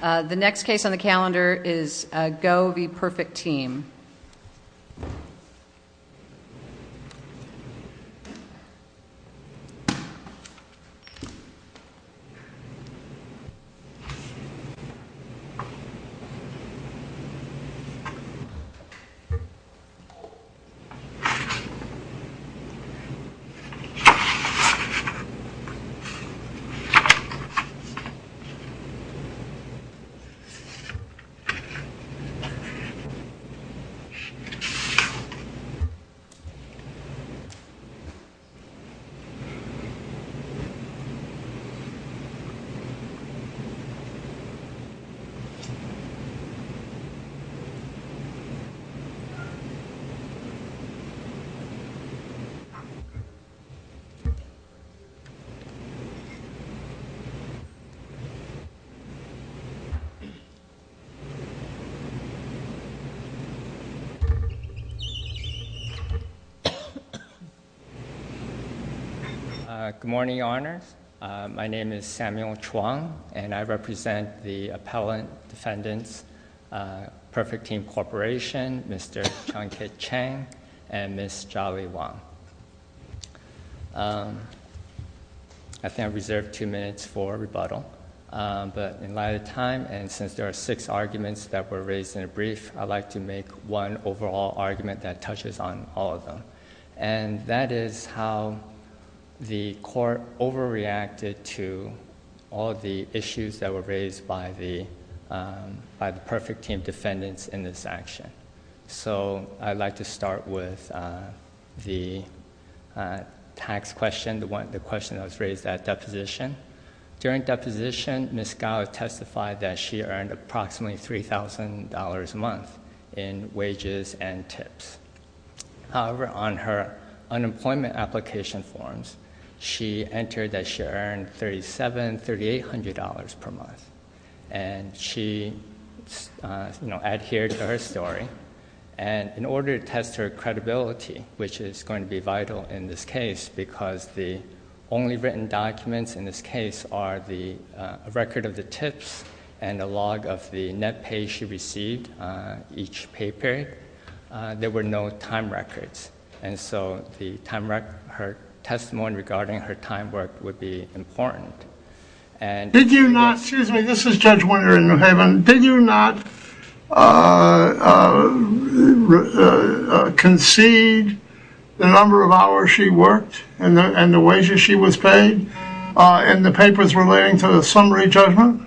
The next case on the calendar is Go v. Perfect Team. Go v. Perfect Team Good morning, Your Honors. My name is Samuel Chuang, and I represent the Appellant Defendants, Perfect Team Corporation, Mr. Chong Kit Chang, and Ms. Jolly Wong. I think I reserved two minutes for rebuttal, but in light of time, and since there are six arguments that were raised in a brief, I'd like to make one overall argument that touches on all of them, and that is how the Court overreacted to all of the issues that were raised by the Perfect Team defendants in this action. So I'd like to start with the tax question, the question that was raised at deposition. During deposition, Ms. Gao testified that she earned approximately $3,000 a month in wages and tips. However, on her unemployment application forms, she entered that she earned $3,800 per month, and she adhered to her story. And in order to test her credibility, which is going to be vital in this case, because the only written documents in this case are the record of the tips and a log of the net pay she received each pay period, there were no time records, and so her testimony regarding her time work would be important. Excuse me, this is Judge Winter in New Haven. Did you not concede the number of hours she worked and the wages she was paid in the papers relating to the summary judgment?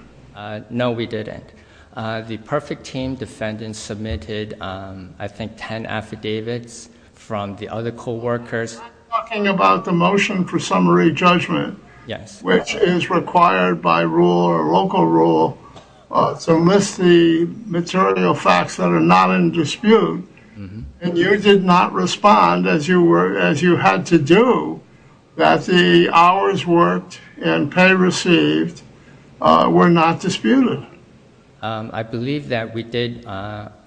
No, we didn't. The Perfect Team defendants submitted, I think, 10 affidavits from the other coworkers. I'm talking about the motion for summary judgment, which is required by rule or local rule to list the material facts that are not in dispute, and you did not respond as you had to do that the hours worked and pay received were not disputed. I believe that we did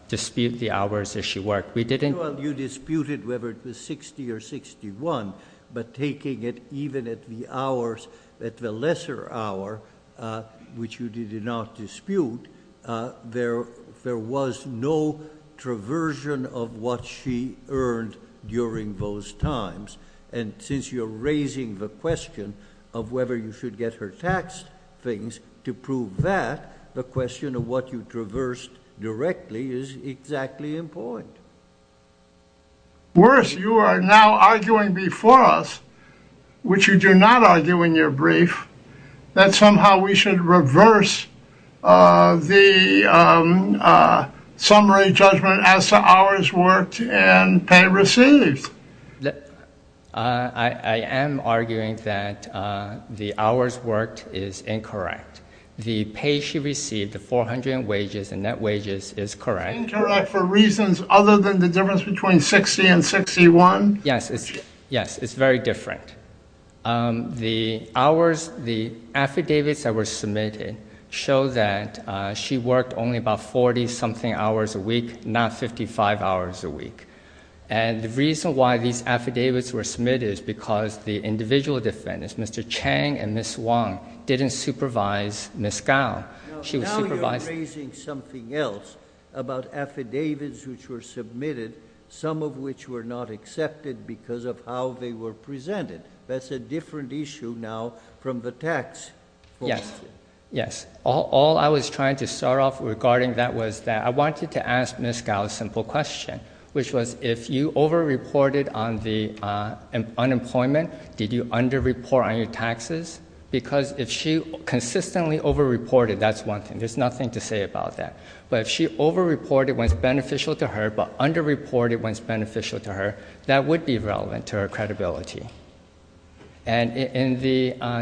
dispute the hours that she worked. We didn't. Well, you disputed whether it was 60 or 61, but taking it even at the lesser hour, which you did not dispute, there was no traversion of what she earned during those times, and since you're raising the question of whether you should get her taxed things, to prove that, the question of what you traversed directly is exactly in point. Worse, you are now arguing before us, which you do not argue in your brief, that somehow we should reverse the summary judgment as to hours worked and pay received. I am arguing that the hours worked is incorrect. The pay she received, the 400 wages and net wages, is correct. Incorrect for reasons other than the difference between 60 and 61? Yes. It's very different. The affidavits that were submitted show that she worked only about 40 something hours a week, not 55 hours a week. The reason why these affidavits were submitted is because the individual defendants, Mr. Chang and Ms. Wong, didn't supervise Ms. Gao. She was supervising... Now you're raising something else about affidavits which were submitted, some of which were not accepted because of how they were presented. That's a different issue now from the tax... Yes. Yes. All I was trying to start off regarding that was that I wanted to ask Ms. Gao a simple question, which was if you overreported on the unemployment, did you underreport on your taxes? Because if she consistently overreported, that's one thing. There's nothing to say about that. But if she overreported when it's beneficial to her, but underreported when it's beneficial to her, that would be relevant to her credibility. And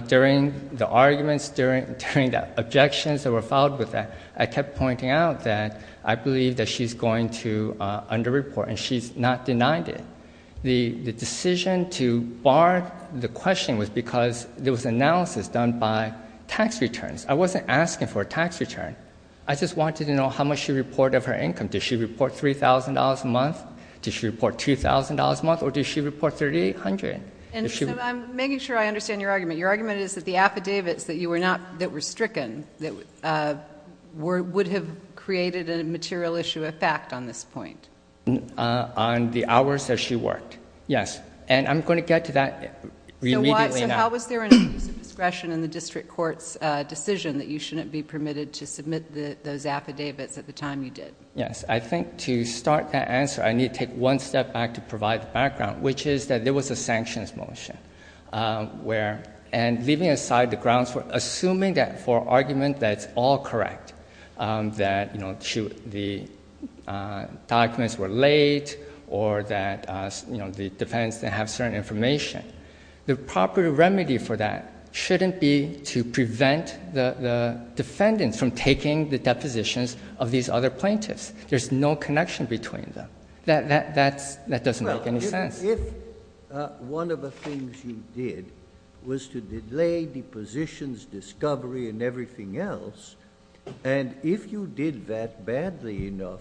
during the arguments, during the objections that were filed with that, I kept pointing out that I believe that she's going to underreport, and she's not denied it. The decision to bar the questioning was because there was analysis done by tax returns. I wasn't asking for a tax return. I just wanted to know how much she reported. Did she report $3,000 a month? Did she report $2,000 a month? Or did she report $3,800? I'm making sure I understand your argument. Your argument is that the affidavits that were stricken would have created a material issue of fact on this point? On the hours that she worked, yes. And I'm going to get to that immediately now. So how was there an abuse of discretion in the district court's decision that you shouldn't be permitted to submit those affidavits at the time you did? Yes. I think to start that answer, I need to take one step back to provide background, which is that there was a sanctions motion. And leaving aside the grounds for assuming that for argument that it's all correct, that the documents were laid or that the defendants didn't have certain information, the proper remedy for that shouldn't be to prevent the defendants from taking the depositions of these other plaintiffs. There's no connection between them. That doesn't make any sense. Well, if one of the things you did was to delay depositions, discovery, and everything else, and if you did that badly enough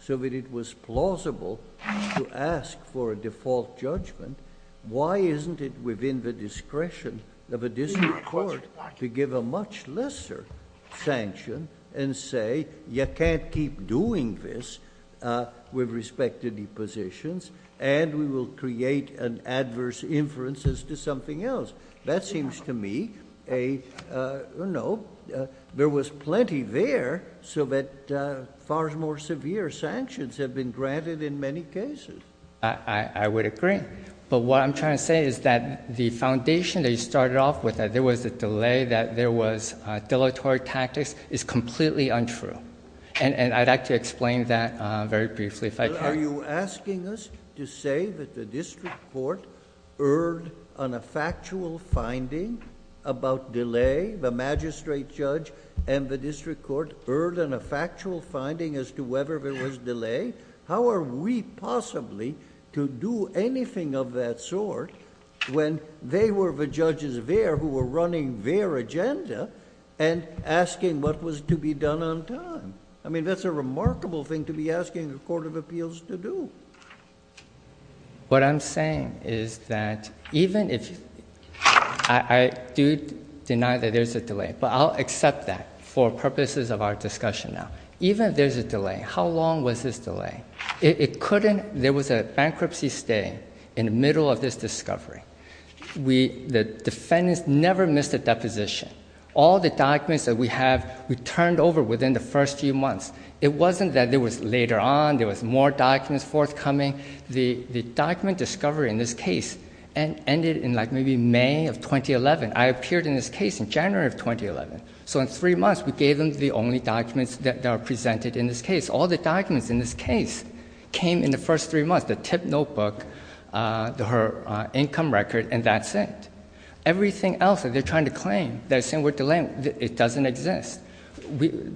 so that it was plausible to ask for a default judgment, why isn't it within the discretion of a district court to give a much lesser sanction and say, you can't keep doing this with respect to depositions, and we will create an adverse inference as to something else? That seems to me... no, there was plenty there so that far more severe sanctions have been granted in many cases. I would agree. But what I'm trying to say is that the foundation that you said there was a delay, that there was dilatory tactics, is completely untrue. I'd like to explain that very briefly if I can. Are you asking us to say that the district court erred on a factual finding about delay, the magistrate judge and the district court erred on a factual finding as to whether there was delay? How are we possibly to do anything of that sort when they were the judges there who were running their agenda and asking what was to be done on time? I mean, that's a remarkable thing to be asking a court of appeals to do. What I'm saying is that even if... I do deny that there's a delay, but I'll accept that for purposes of our discussion now. Even if there's a delay, how long was this delay? It couldn't... there was a bankruptcy stay in the middle of this discovery. The defendants never missed a deposition. All the documents that we have, we turned over within the first few months. It wasn't that there was later on, there was more documents forthcoming. The document discovery in this case ended in like maybe May of 2011. I appeared in this case in January of 2011. So in three months, we gave them the only documents that are presented in this case. All the documents in this case came in the first three months, the tip notebook, her income record, and that's it. Everything else that they're trying to claim, they're saying we're delaying, it doesn't exist.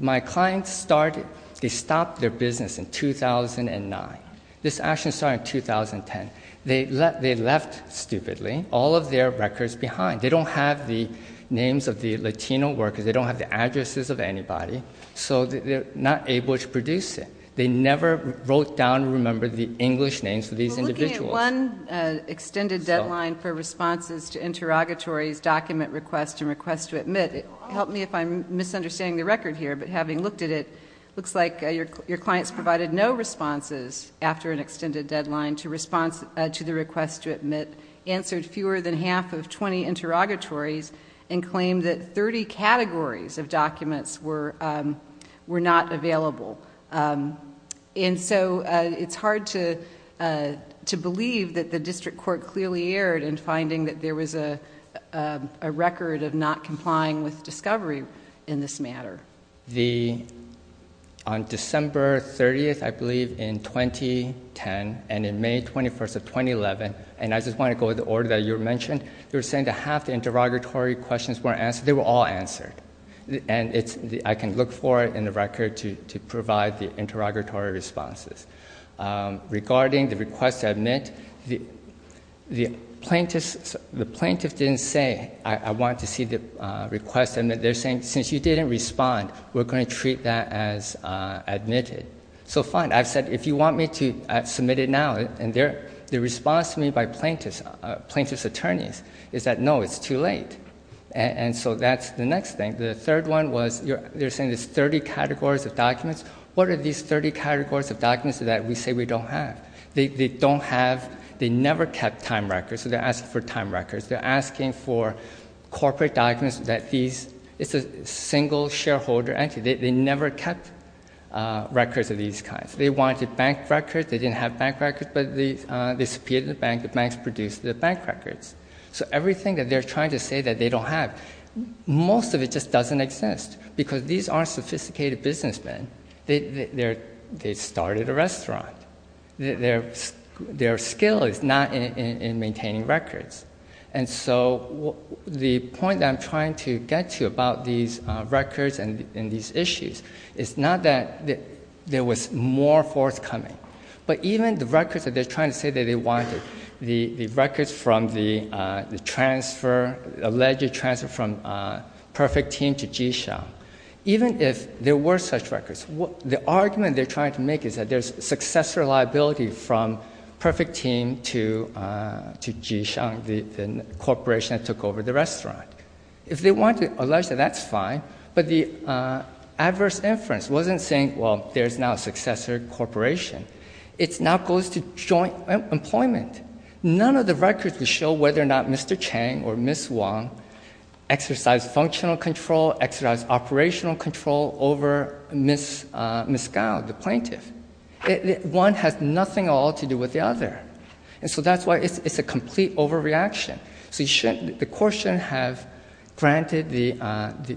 My client started... they stopped their business in 2009. This action started in 2010. They left, stupidly, all of their records behind. They don't have the names of the Latino workers. They don't have the addresses of anybody. So they're not able to produce it. They never wrote down or remembered the English names of these individuals. We're looking at one extended deadline for responses to interrogatories, document requests, and requests to admit. Help me if I'm misunderstanding the record here, but having looked at it, it looks like your client's provided no responses after an extended deadline to the request to admit, answered fewer than half of 20 interrogatories, and claimed that 30 categories of documents were not available. And so it's hard to believe that the district court clearly erred in finding that there was a record of not complying with discovery in this matter. On December 30th, I believe, in 2010, and in May 21st of 2011, and I just want to go with the order that you mentioned, you were saying that half the interrogatory questions weren't answered. They were all answered. I can look for it in the record to provide the interrogatory responses. Regarding the request to admit, the plaintiff didn't say, I want to see the request to admit. They're saying, since you didn't respond, we're going to treat that as admitted. So fine, I've said, if you want me to submit it now, and the response to me by plaintiff's attorneys is that, no, it's too late. And so that's the next thing. The third one was they're saying there's 30 categories of documents. What are these 30 categories of documents that we say we don't have? They don't have, they never kept time records, so they're asking for time records. It's a single shareholder entity. They never kept records of these kinds. They wanted bank records. They didn't have bank records, but they disappeared in the bank. The banks produced the bank records. So everything that they're trying to say that they don't have, most of it just doesn't exist because these aren't sophisticated businessmen. They started a restaurant. Their skill is not in maintaining records. And so the point that I'm trying to get to about these records and these issues is not that there was more forthcoming, but even the records that they're trying to say that they wanted, the records from the alleged transfer from Perfect Team to Jishang, even if there were such records, the argument they're trying to make is that there's successor liability from Perfect Team to Jishang, the corporation that took over the restaurant. If they want to allege that, that's fine, but the adverse inference wasn't saying, well, there's now a successor corporation. It now goes to joint employment. None of the records would show whether or not Mr. Chang or Ms. Wong exercised functional control, exercised operational control over Ms. Gao, the plaintiff. One has nothing at all to do with the other. And so that's why it's a complete overreaction. So the court shouldn't have granted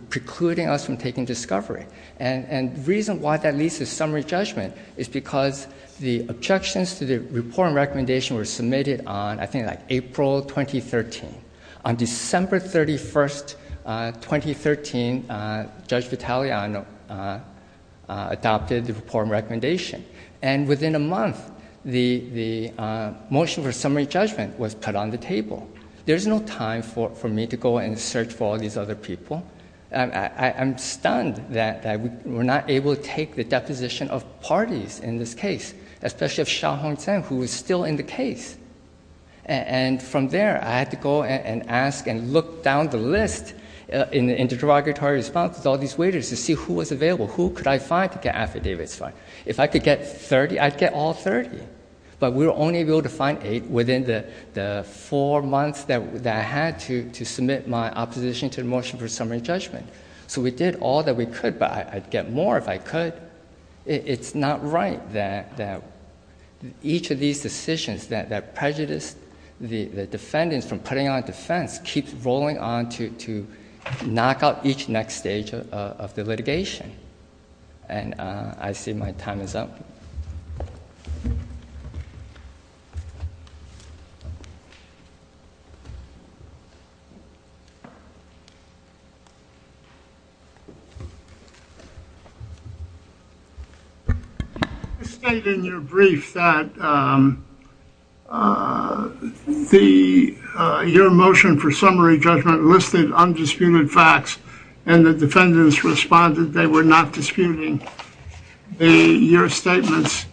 precluding us from taking discovery. And the reason why that leads to summary judgment is because the objections to the report and recommendation were submitted on, I think, like April 2013. On December 31, 2013, Judge Vitaleano adopted the report and recommendation. And within a month, the motion for summary judgment was put on the table. There's no time for me to go and search for all these other people. I'm stunned that we're not able to take the deposition of parties in this case, especially of Xia Hongzhen, who is still in the case. And from there, I had to go and ask and look down the list in the interrogatory response with all these waiters to see who was available, who could I find to get affidavits for. If I could get 30, I'd get all 30. But we were only able to find eight within the four months that I had to submit my opposition to the motion for summary judgment. So we did all that we could, but I'd get more if I could. It's not right that each of these decisions that prejudice the defendants from putting on defense keeps rolling on to knock out each next stage of the litigation. And I see my time is up. Thank you. You state in your brief that your motion for summary judgment listed undisputed facts, and the defendants responded they were not disputing your statements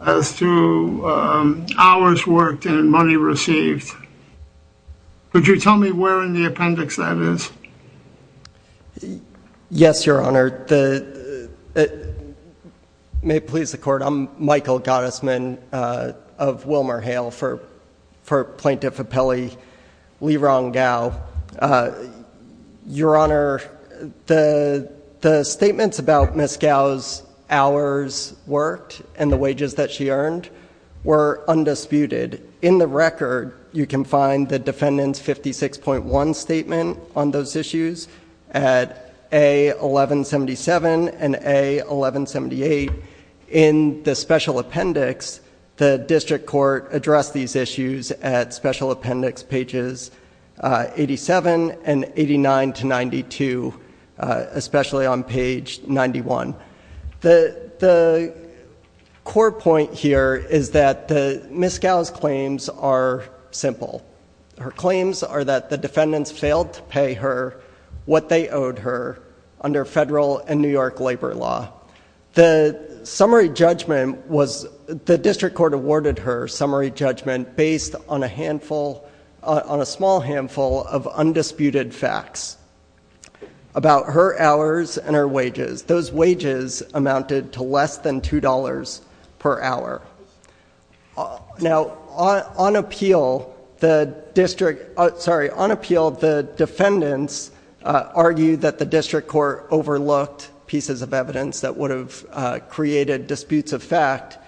as to hours worked and money received. Could you tell me where in the appendix that is? Yes, Your Honor. May it please the Court, I'm Michael Gottesman of WilmerHale for Plaintiff Appellee Lerong Gao. Your Honor, the statements about Ms. Gao's hours worked and the wages that she earned were undisputed. And in the record, you can find the defendant's 56.1 statement on those issues at A1177 and A1178. In the special appendix, the district court addressed these issues at special appendix pages 87 and 89 to 92, especially on page 91. The core point here is that Ms. Gao's claims are simple. Her claims are that the defendants failed to pay her what they owed her under federal and New York labor law. The summary judgment was, the district court awarded her summary judgment based on a handful, on a small handful of undisputed facts about her hours and her wages. Those wages amounted to less than $2 per hour. Now, on appeal, the district, sorry, on appeal, the defendants argued that the district court overlooked pieces of evidence that would have created disputes of fact.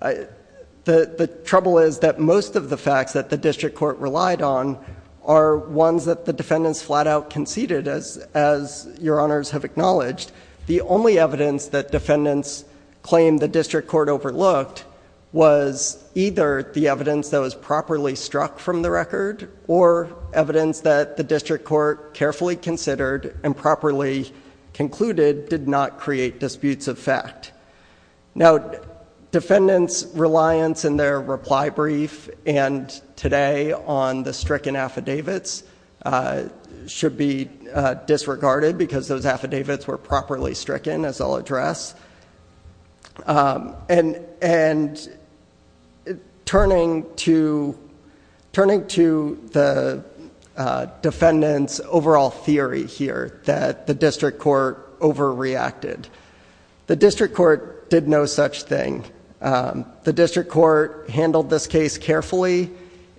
The trouble is that most of the facts that the district court relied on are ones that the defendants flat out conceded, as Your Honors have acknowledged. The only evidence that defendants claimed the district court overlooked was either the evidence that was properly struck from the record, or evidence that the district court carefully considered and properly concluded did not create disputes of fact. Now, defendants' reliance in their reply brief and today on the stricken affidavits should be disregarded because those affidavits were properly stricken, as I'll address. And turning to the defendants' overall theory here, that the district court overreacted. The district court did no such thing. The district court handled this case carefully.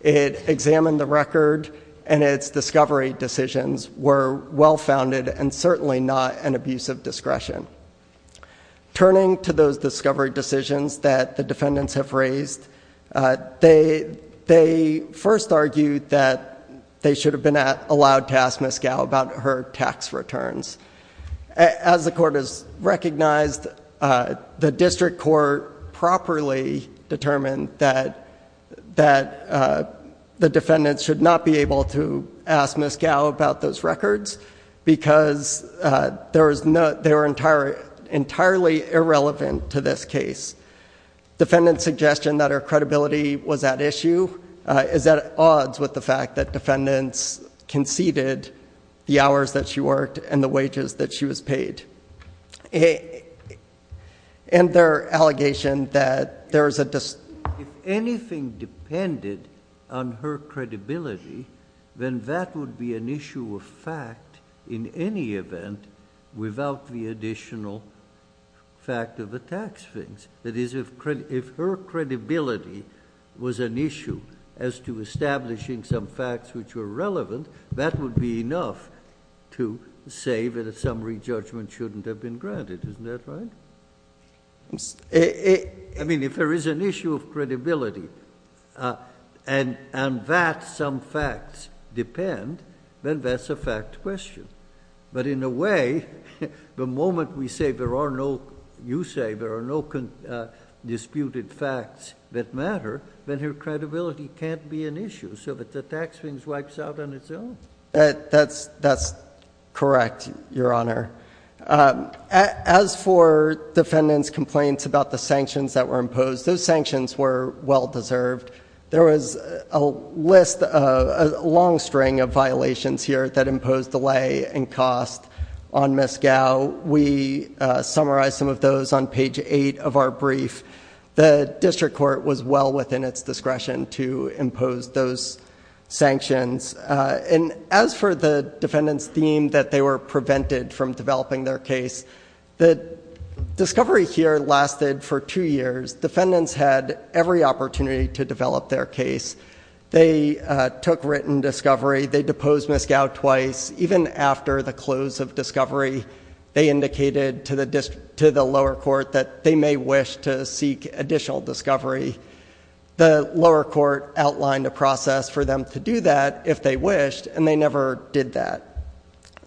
It examined the record, and its discovery decisions were well-founded and certainly not an abuse of discretion. Turning to those discovery decisions that the defendants have raised, they first argued that they should have been allowed to ask Ms. Gow about her tax returns. As the court has recognized, the district court properly determined that the defendants should not be able to ask Ms. Gow about those records because they were entirely irrelevant to this case. Defendant's suggestion that her credibility was at issue is at odds with the fact that defendants conceded the hours that she worked and the wages that she was paid. And their allegation that there was a dis- If anything depended on her credibility, then that would be an issue of fact in any event without the additional fact of the tax things. That is, if her credibility was an issue as to establishing some facts which were relevant, that would be enough to say that a summary judgment shouldn't have been granted. Isn't that right? I mean, if there is an issue of credibility and that some facts depend, then that's a fact question. But in a way, the moment we say there are no, you say there are no disputed facts that matter, then her credibility can't be an issue so that the tax things wipes out on its own. That's correct, Your Honor. As for defendant's complaints about the sanctions that were imposed, those sanctions were well deserved. There was a list, a long string of violations here that imposed delay and cost on Ms. Gow. We summarized some of those on page eight of our brief. The district court was well within its discretion to impose those sanctions. As for the defendant's theme that they were prevented from developing their case, the discovery here lasted for two years. Defendants had every opportunity to develop their case. They took written discovery. They deposed Ms. Gow twice. Even after the close of discovery, they indicated to the lower court that they may wish to seek additional discovery. The lower court outlined a process for them to do that if they wished, and they never did that.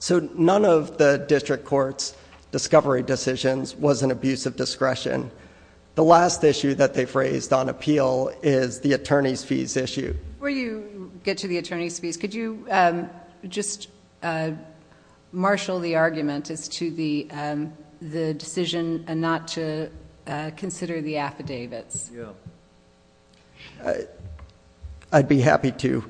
None of the district court's discovery decisions was an abuse of discretion. The last issue that they phrased on appeal is the attorney's fees issue. Before you get to the attorney's fees, could you just marshal the argument as to the decision not to consider the affidavits? I'd be happy to.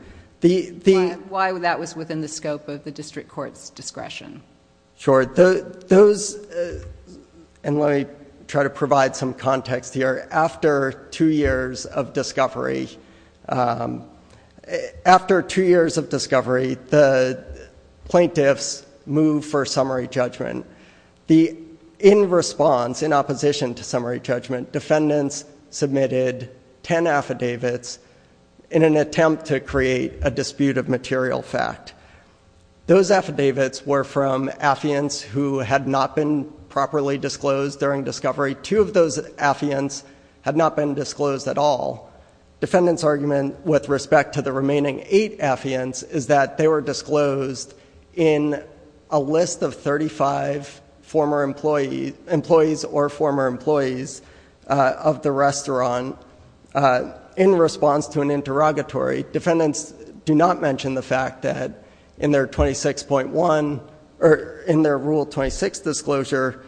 Why that was within the scope of the district court's discretion? Sure. Those... and let me try to provide some context here. After two years of discovery, the plaintiffs moved for summary judgment. In response, in opposition to summary judgment, defendants submitted ten affidavits in an attempt to create a dispute of material fact. Those affidavits were from affiants who had not been properly disclosed during discovery. Two of those affiants had not been disclosed at all. Defendant's argument with respect to the remaining eight affiants is that they were disclosed in a list of 35 employees or former employees of the restaurant. In response to an interrogatory, defendants do not mention the fact that in their Rule 26 disclosure,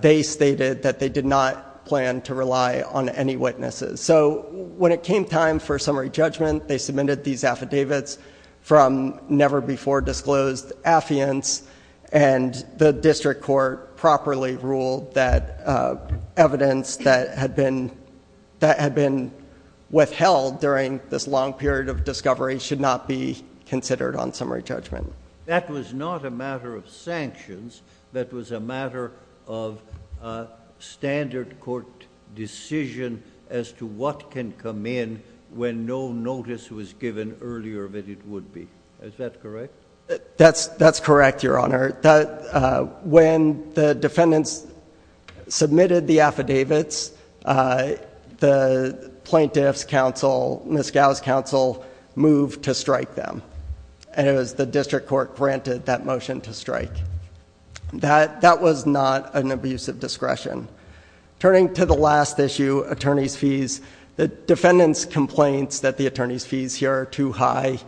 they stated that they did not plan to rely on any witnesses. When it came time for summary judgment, they submitted these affidavits from never-before-disclosed affiants, and the district court properly ruled that evidence that had been withheld during this long period of discovery should not be considered on summary judgment. That was not a matter of sanctions. That was a matter of standard court decision as to what can come in when no notice was given earlier than it would be. Is that correct? That's correct, Your Honor. When the defendants submitted the affidavits, the plaintiff's counsel, Ms. Gow's counsel, moved to strike them. It was the district court granted that motion to strike. That was not an abuse of discretion. Turning to the last issue, attorney's fees, the defendant's complaints that the attorney's fees here are too high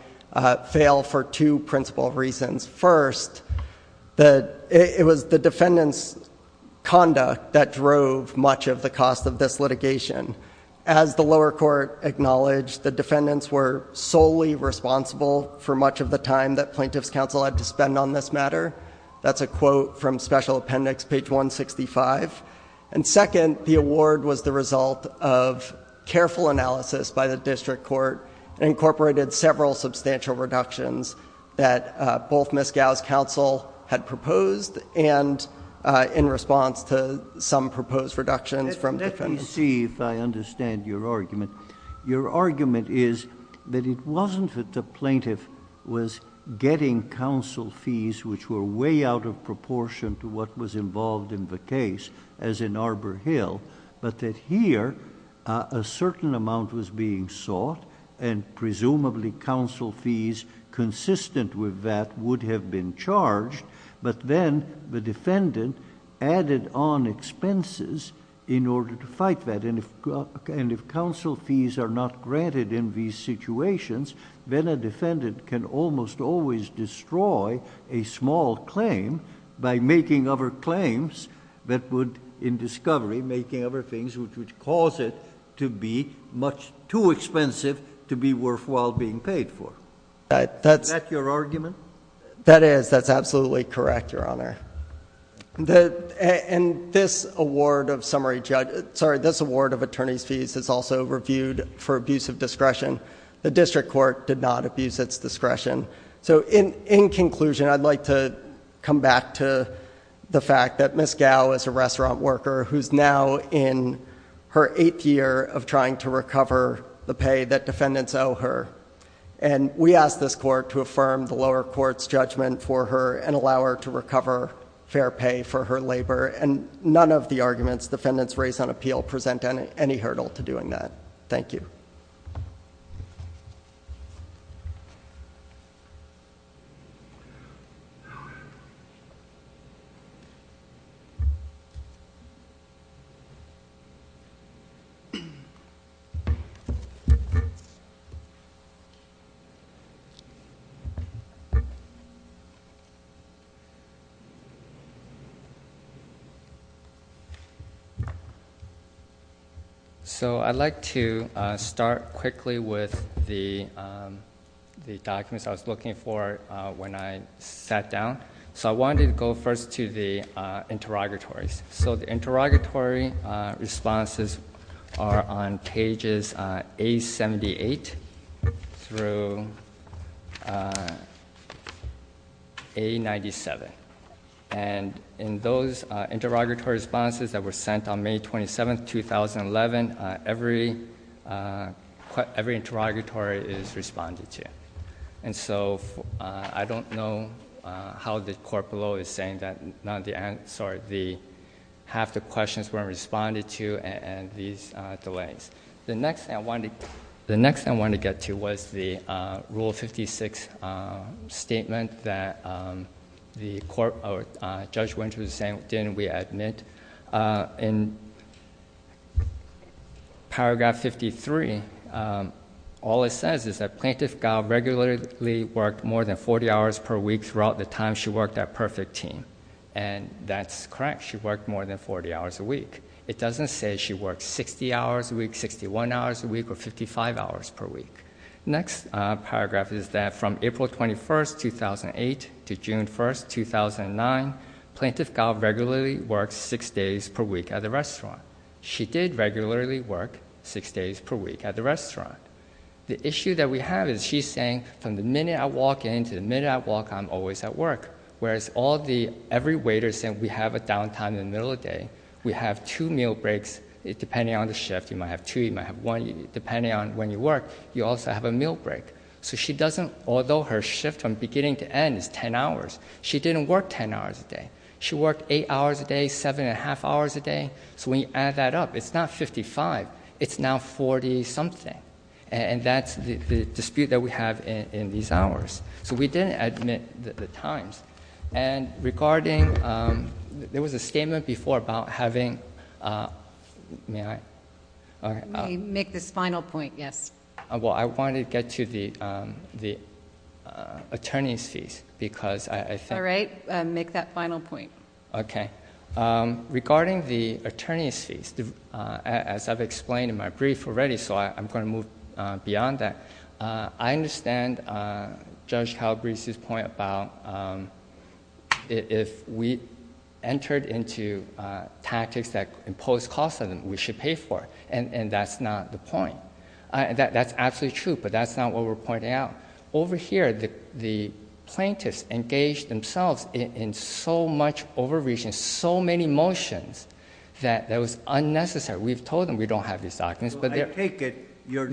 fail for two principal reasons. First, it was the defendant's conduct that drove much of the cost of this litigation. As the lower court acknowledged, the defendants were solely responsible for much of the time that plaintiff's counsel had to spend on this matter. That's a quote from Special Appendix, page 165. Second, the award was the result of careful analysis by the district court, and incorporated several substantial reductions that both Ms. Gow's counsel had proposed, and in response to some proposed reductions from defendants. Let me see if I understand your argument. Your argument is that it wasn't that the plaintiff was getting counsel fees which were way out of proportion to what was involved in the case, as in Arbor Hill, but that here a certain amount was being sought, and presumably counsel fees consistent with that would have been charged, but then the defendant added on expenses in order to fight that. If counsel fees are not granted in these situations, then a defendant can almost always destroy a small claim by making other claims that would, in discovery, making other things which would cause it to be much too expensive to be worthwhile being paid for. Is that your argument? That is. That's absolutely correct, Your Honor. This award of attorneys' fees is also reviewed for abuse of discretion. The district court did not abuse its discretion. In conclusion, I'd like to come back to the fact that Ms. Gow is a restaurant worker who's now in her eighth year of trying to recover the pay that defendants owe her. And we ask this court to affirm the lower court's judgment for her and allow her to recover fair pay for her labor, and none of the arguments defendants raise on appeal present any hurdle to doing that. Thank you. So I'd like to start quickly with the documents I was looking for when I sat down. So I wanted to go first to the interrogatories. So the interrogatory responses are on pages A78 through A97. And in those interrogatory responses that were sent on May 27, 2011, every interrogatory is responded to. And so I don't know how the court below is saying that half the questions weren't responded to and these delays. The next thing I wanted to get to was the Rule 56 statement that Judge Winters was saying, In paragraph 53, all it says is that Plaintiff Gow regularly worked more than 40 hours per week throughout the time she worked at Perfect Team. And that's correct. She worked more than 40 hours a week. It doesn't say she worked 60 hours a week, 61 hours a week, or 55 hours per week. Next paragraph is that from April 21, 2008, to June 1, 2009, Plaintiff Gow regularly worked six days per week at the restaurant. She did regularly work six days per week at the restaurant. The issue that we have is she's saying from the minute I walk in to the minute I walk out, I'm always at work. Whereas every waiter said we have a downtime in the middle of the day. We have two meal breaks depending on the shift. You might have two, you might have one. Depending on when you work, you also have a meal break. So she doesn't, although her shift from beginning to end is ten hours, she didn't work ten hours a day. She worked eight hours a day, seven and a half hours a day. So when you add that up, it's not 55, it's now 40 something. And that's the dispute that we have in these hours. So we didn't admit the times. And regarding, there was a statement before about having, may I? Let me make this final point, yes. Well, I want to get to the attorney's fees because I think. All right, make that final point. Okay. Regarding the attorney's fees, as I've explained in my brief already, so I'm going to move beyond that. I understand Judge Calabrese's point about if we entered into tactics that imposed costs on them, we should pay for it. And that's not the point. That's absolutely true, but that's not what we're pointing out. Over here, the plaintiffs engaged themselves in so much overreaching, so many motions, that it was unnecessary. We've told them we don't have these documents. I take it you're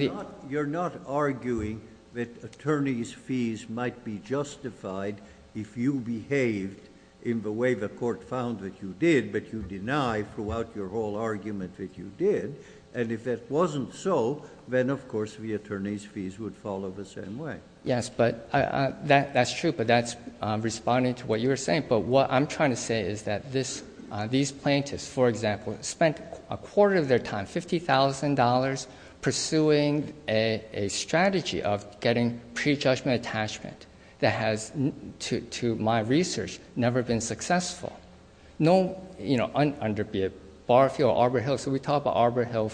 not arguing that attorney's fees might be justified if you behaved in the way the court found that you did, but you deny throughout your whole argument that you did. And if it wasn't so, then, of course, the attorney's fees would follow the same way. Yes, but that's true, but that's responding to what you were saying. But what I'm trying to say is that these plaintiffs, for example, spent a quarter of their time, $50,000, pursuing a strategy of getting prejudgment attachment that has, to my research, never been successful. Under Barfield or Arbor Hill, so we talked about Arbor Hill.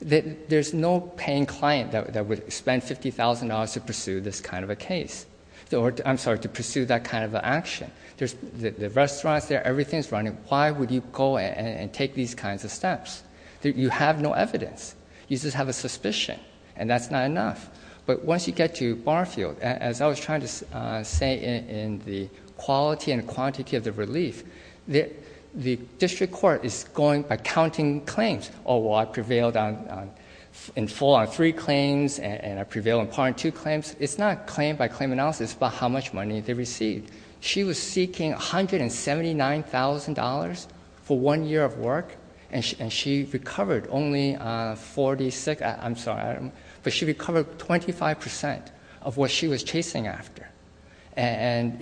There's no paying client that would spend $50,000 to pursue this kind of a case. I'm sorry, to pursue that kind of an action. The restaurant's there. Everything's running. Why would you go and take these kinds of steps? You have no evidence. You just have a suspicion, and that's not enough. But once you get to Barfield, as I was trying to say in the quality and quantity of the relief, the district court is going by counting claims. Oh, well, I prevailed in full on three claims, and I prevailed in part on two claims. It's not claim by claim analysis. It's about how much money they received. She was seeking $179,000 for one year of work, and she recovered only 46. I'm sorry. But she recovered 25% of what she was chasing after. And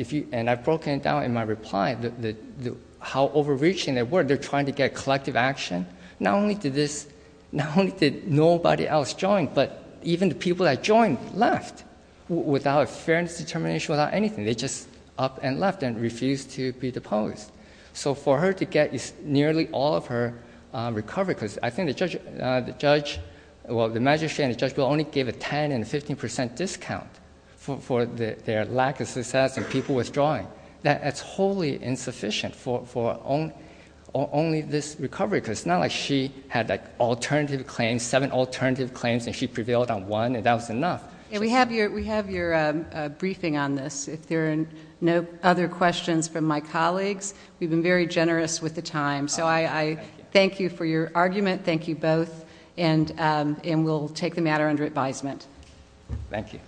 I've broken it down in my reply, how overreaching they were. They're trying to get collective action. Not only did nobody else join, but even the people that joined left without a fairness determination, without anything. They just up and left and refused to be deposed. So for her to get nearly all of her recovery, because I think the judge, well, the magistrate and the judge will only give a 10% and 15% discount for their lack of success in people withdrawing. That's wholly insufficient for only this recovery. Because it's not like she had alternative claims, seven alternative claims, and she prevailed on one, and that was enough. We have your briefing on this. If there are no other questions from my colleagues, we've been very generous with the time. So I thank you for your argument. Thank you both. And we'll take the matter under advisement. Thank you.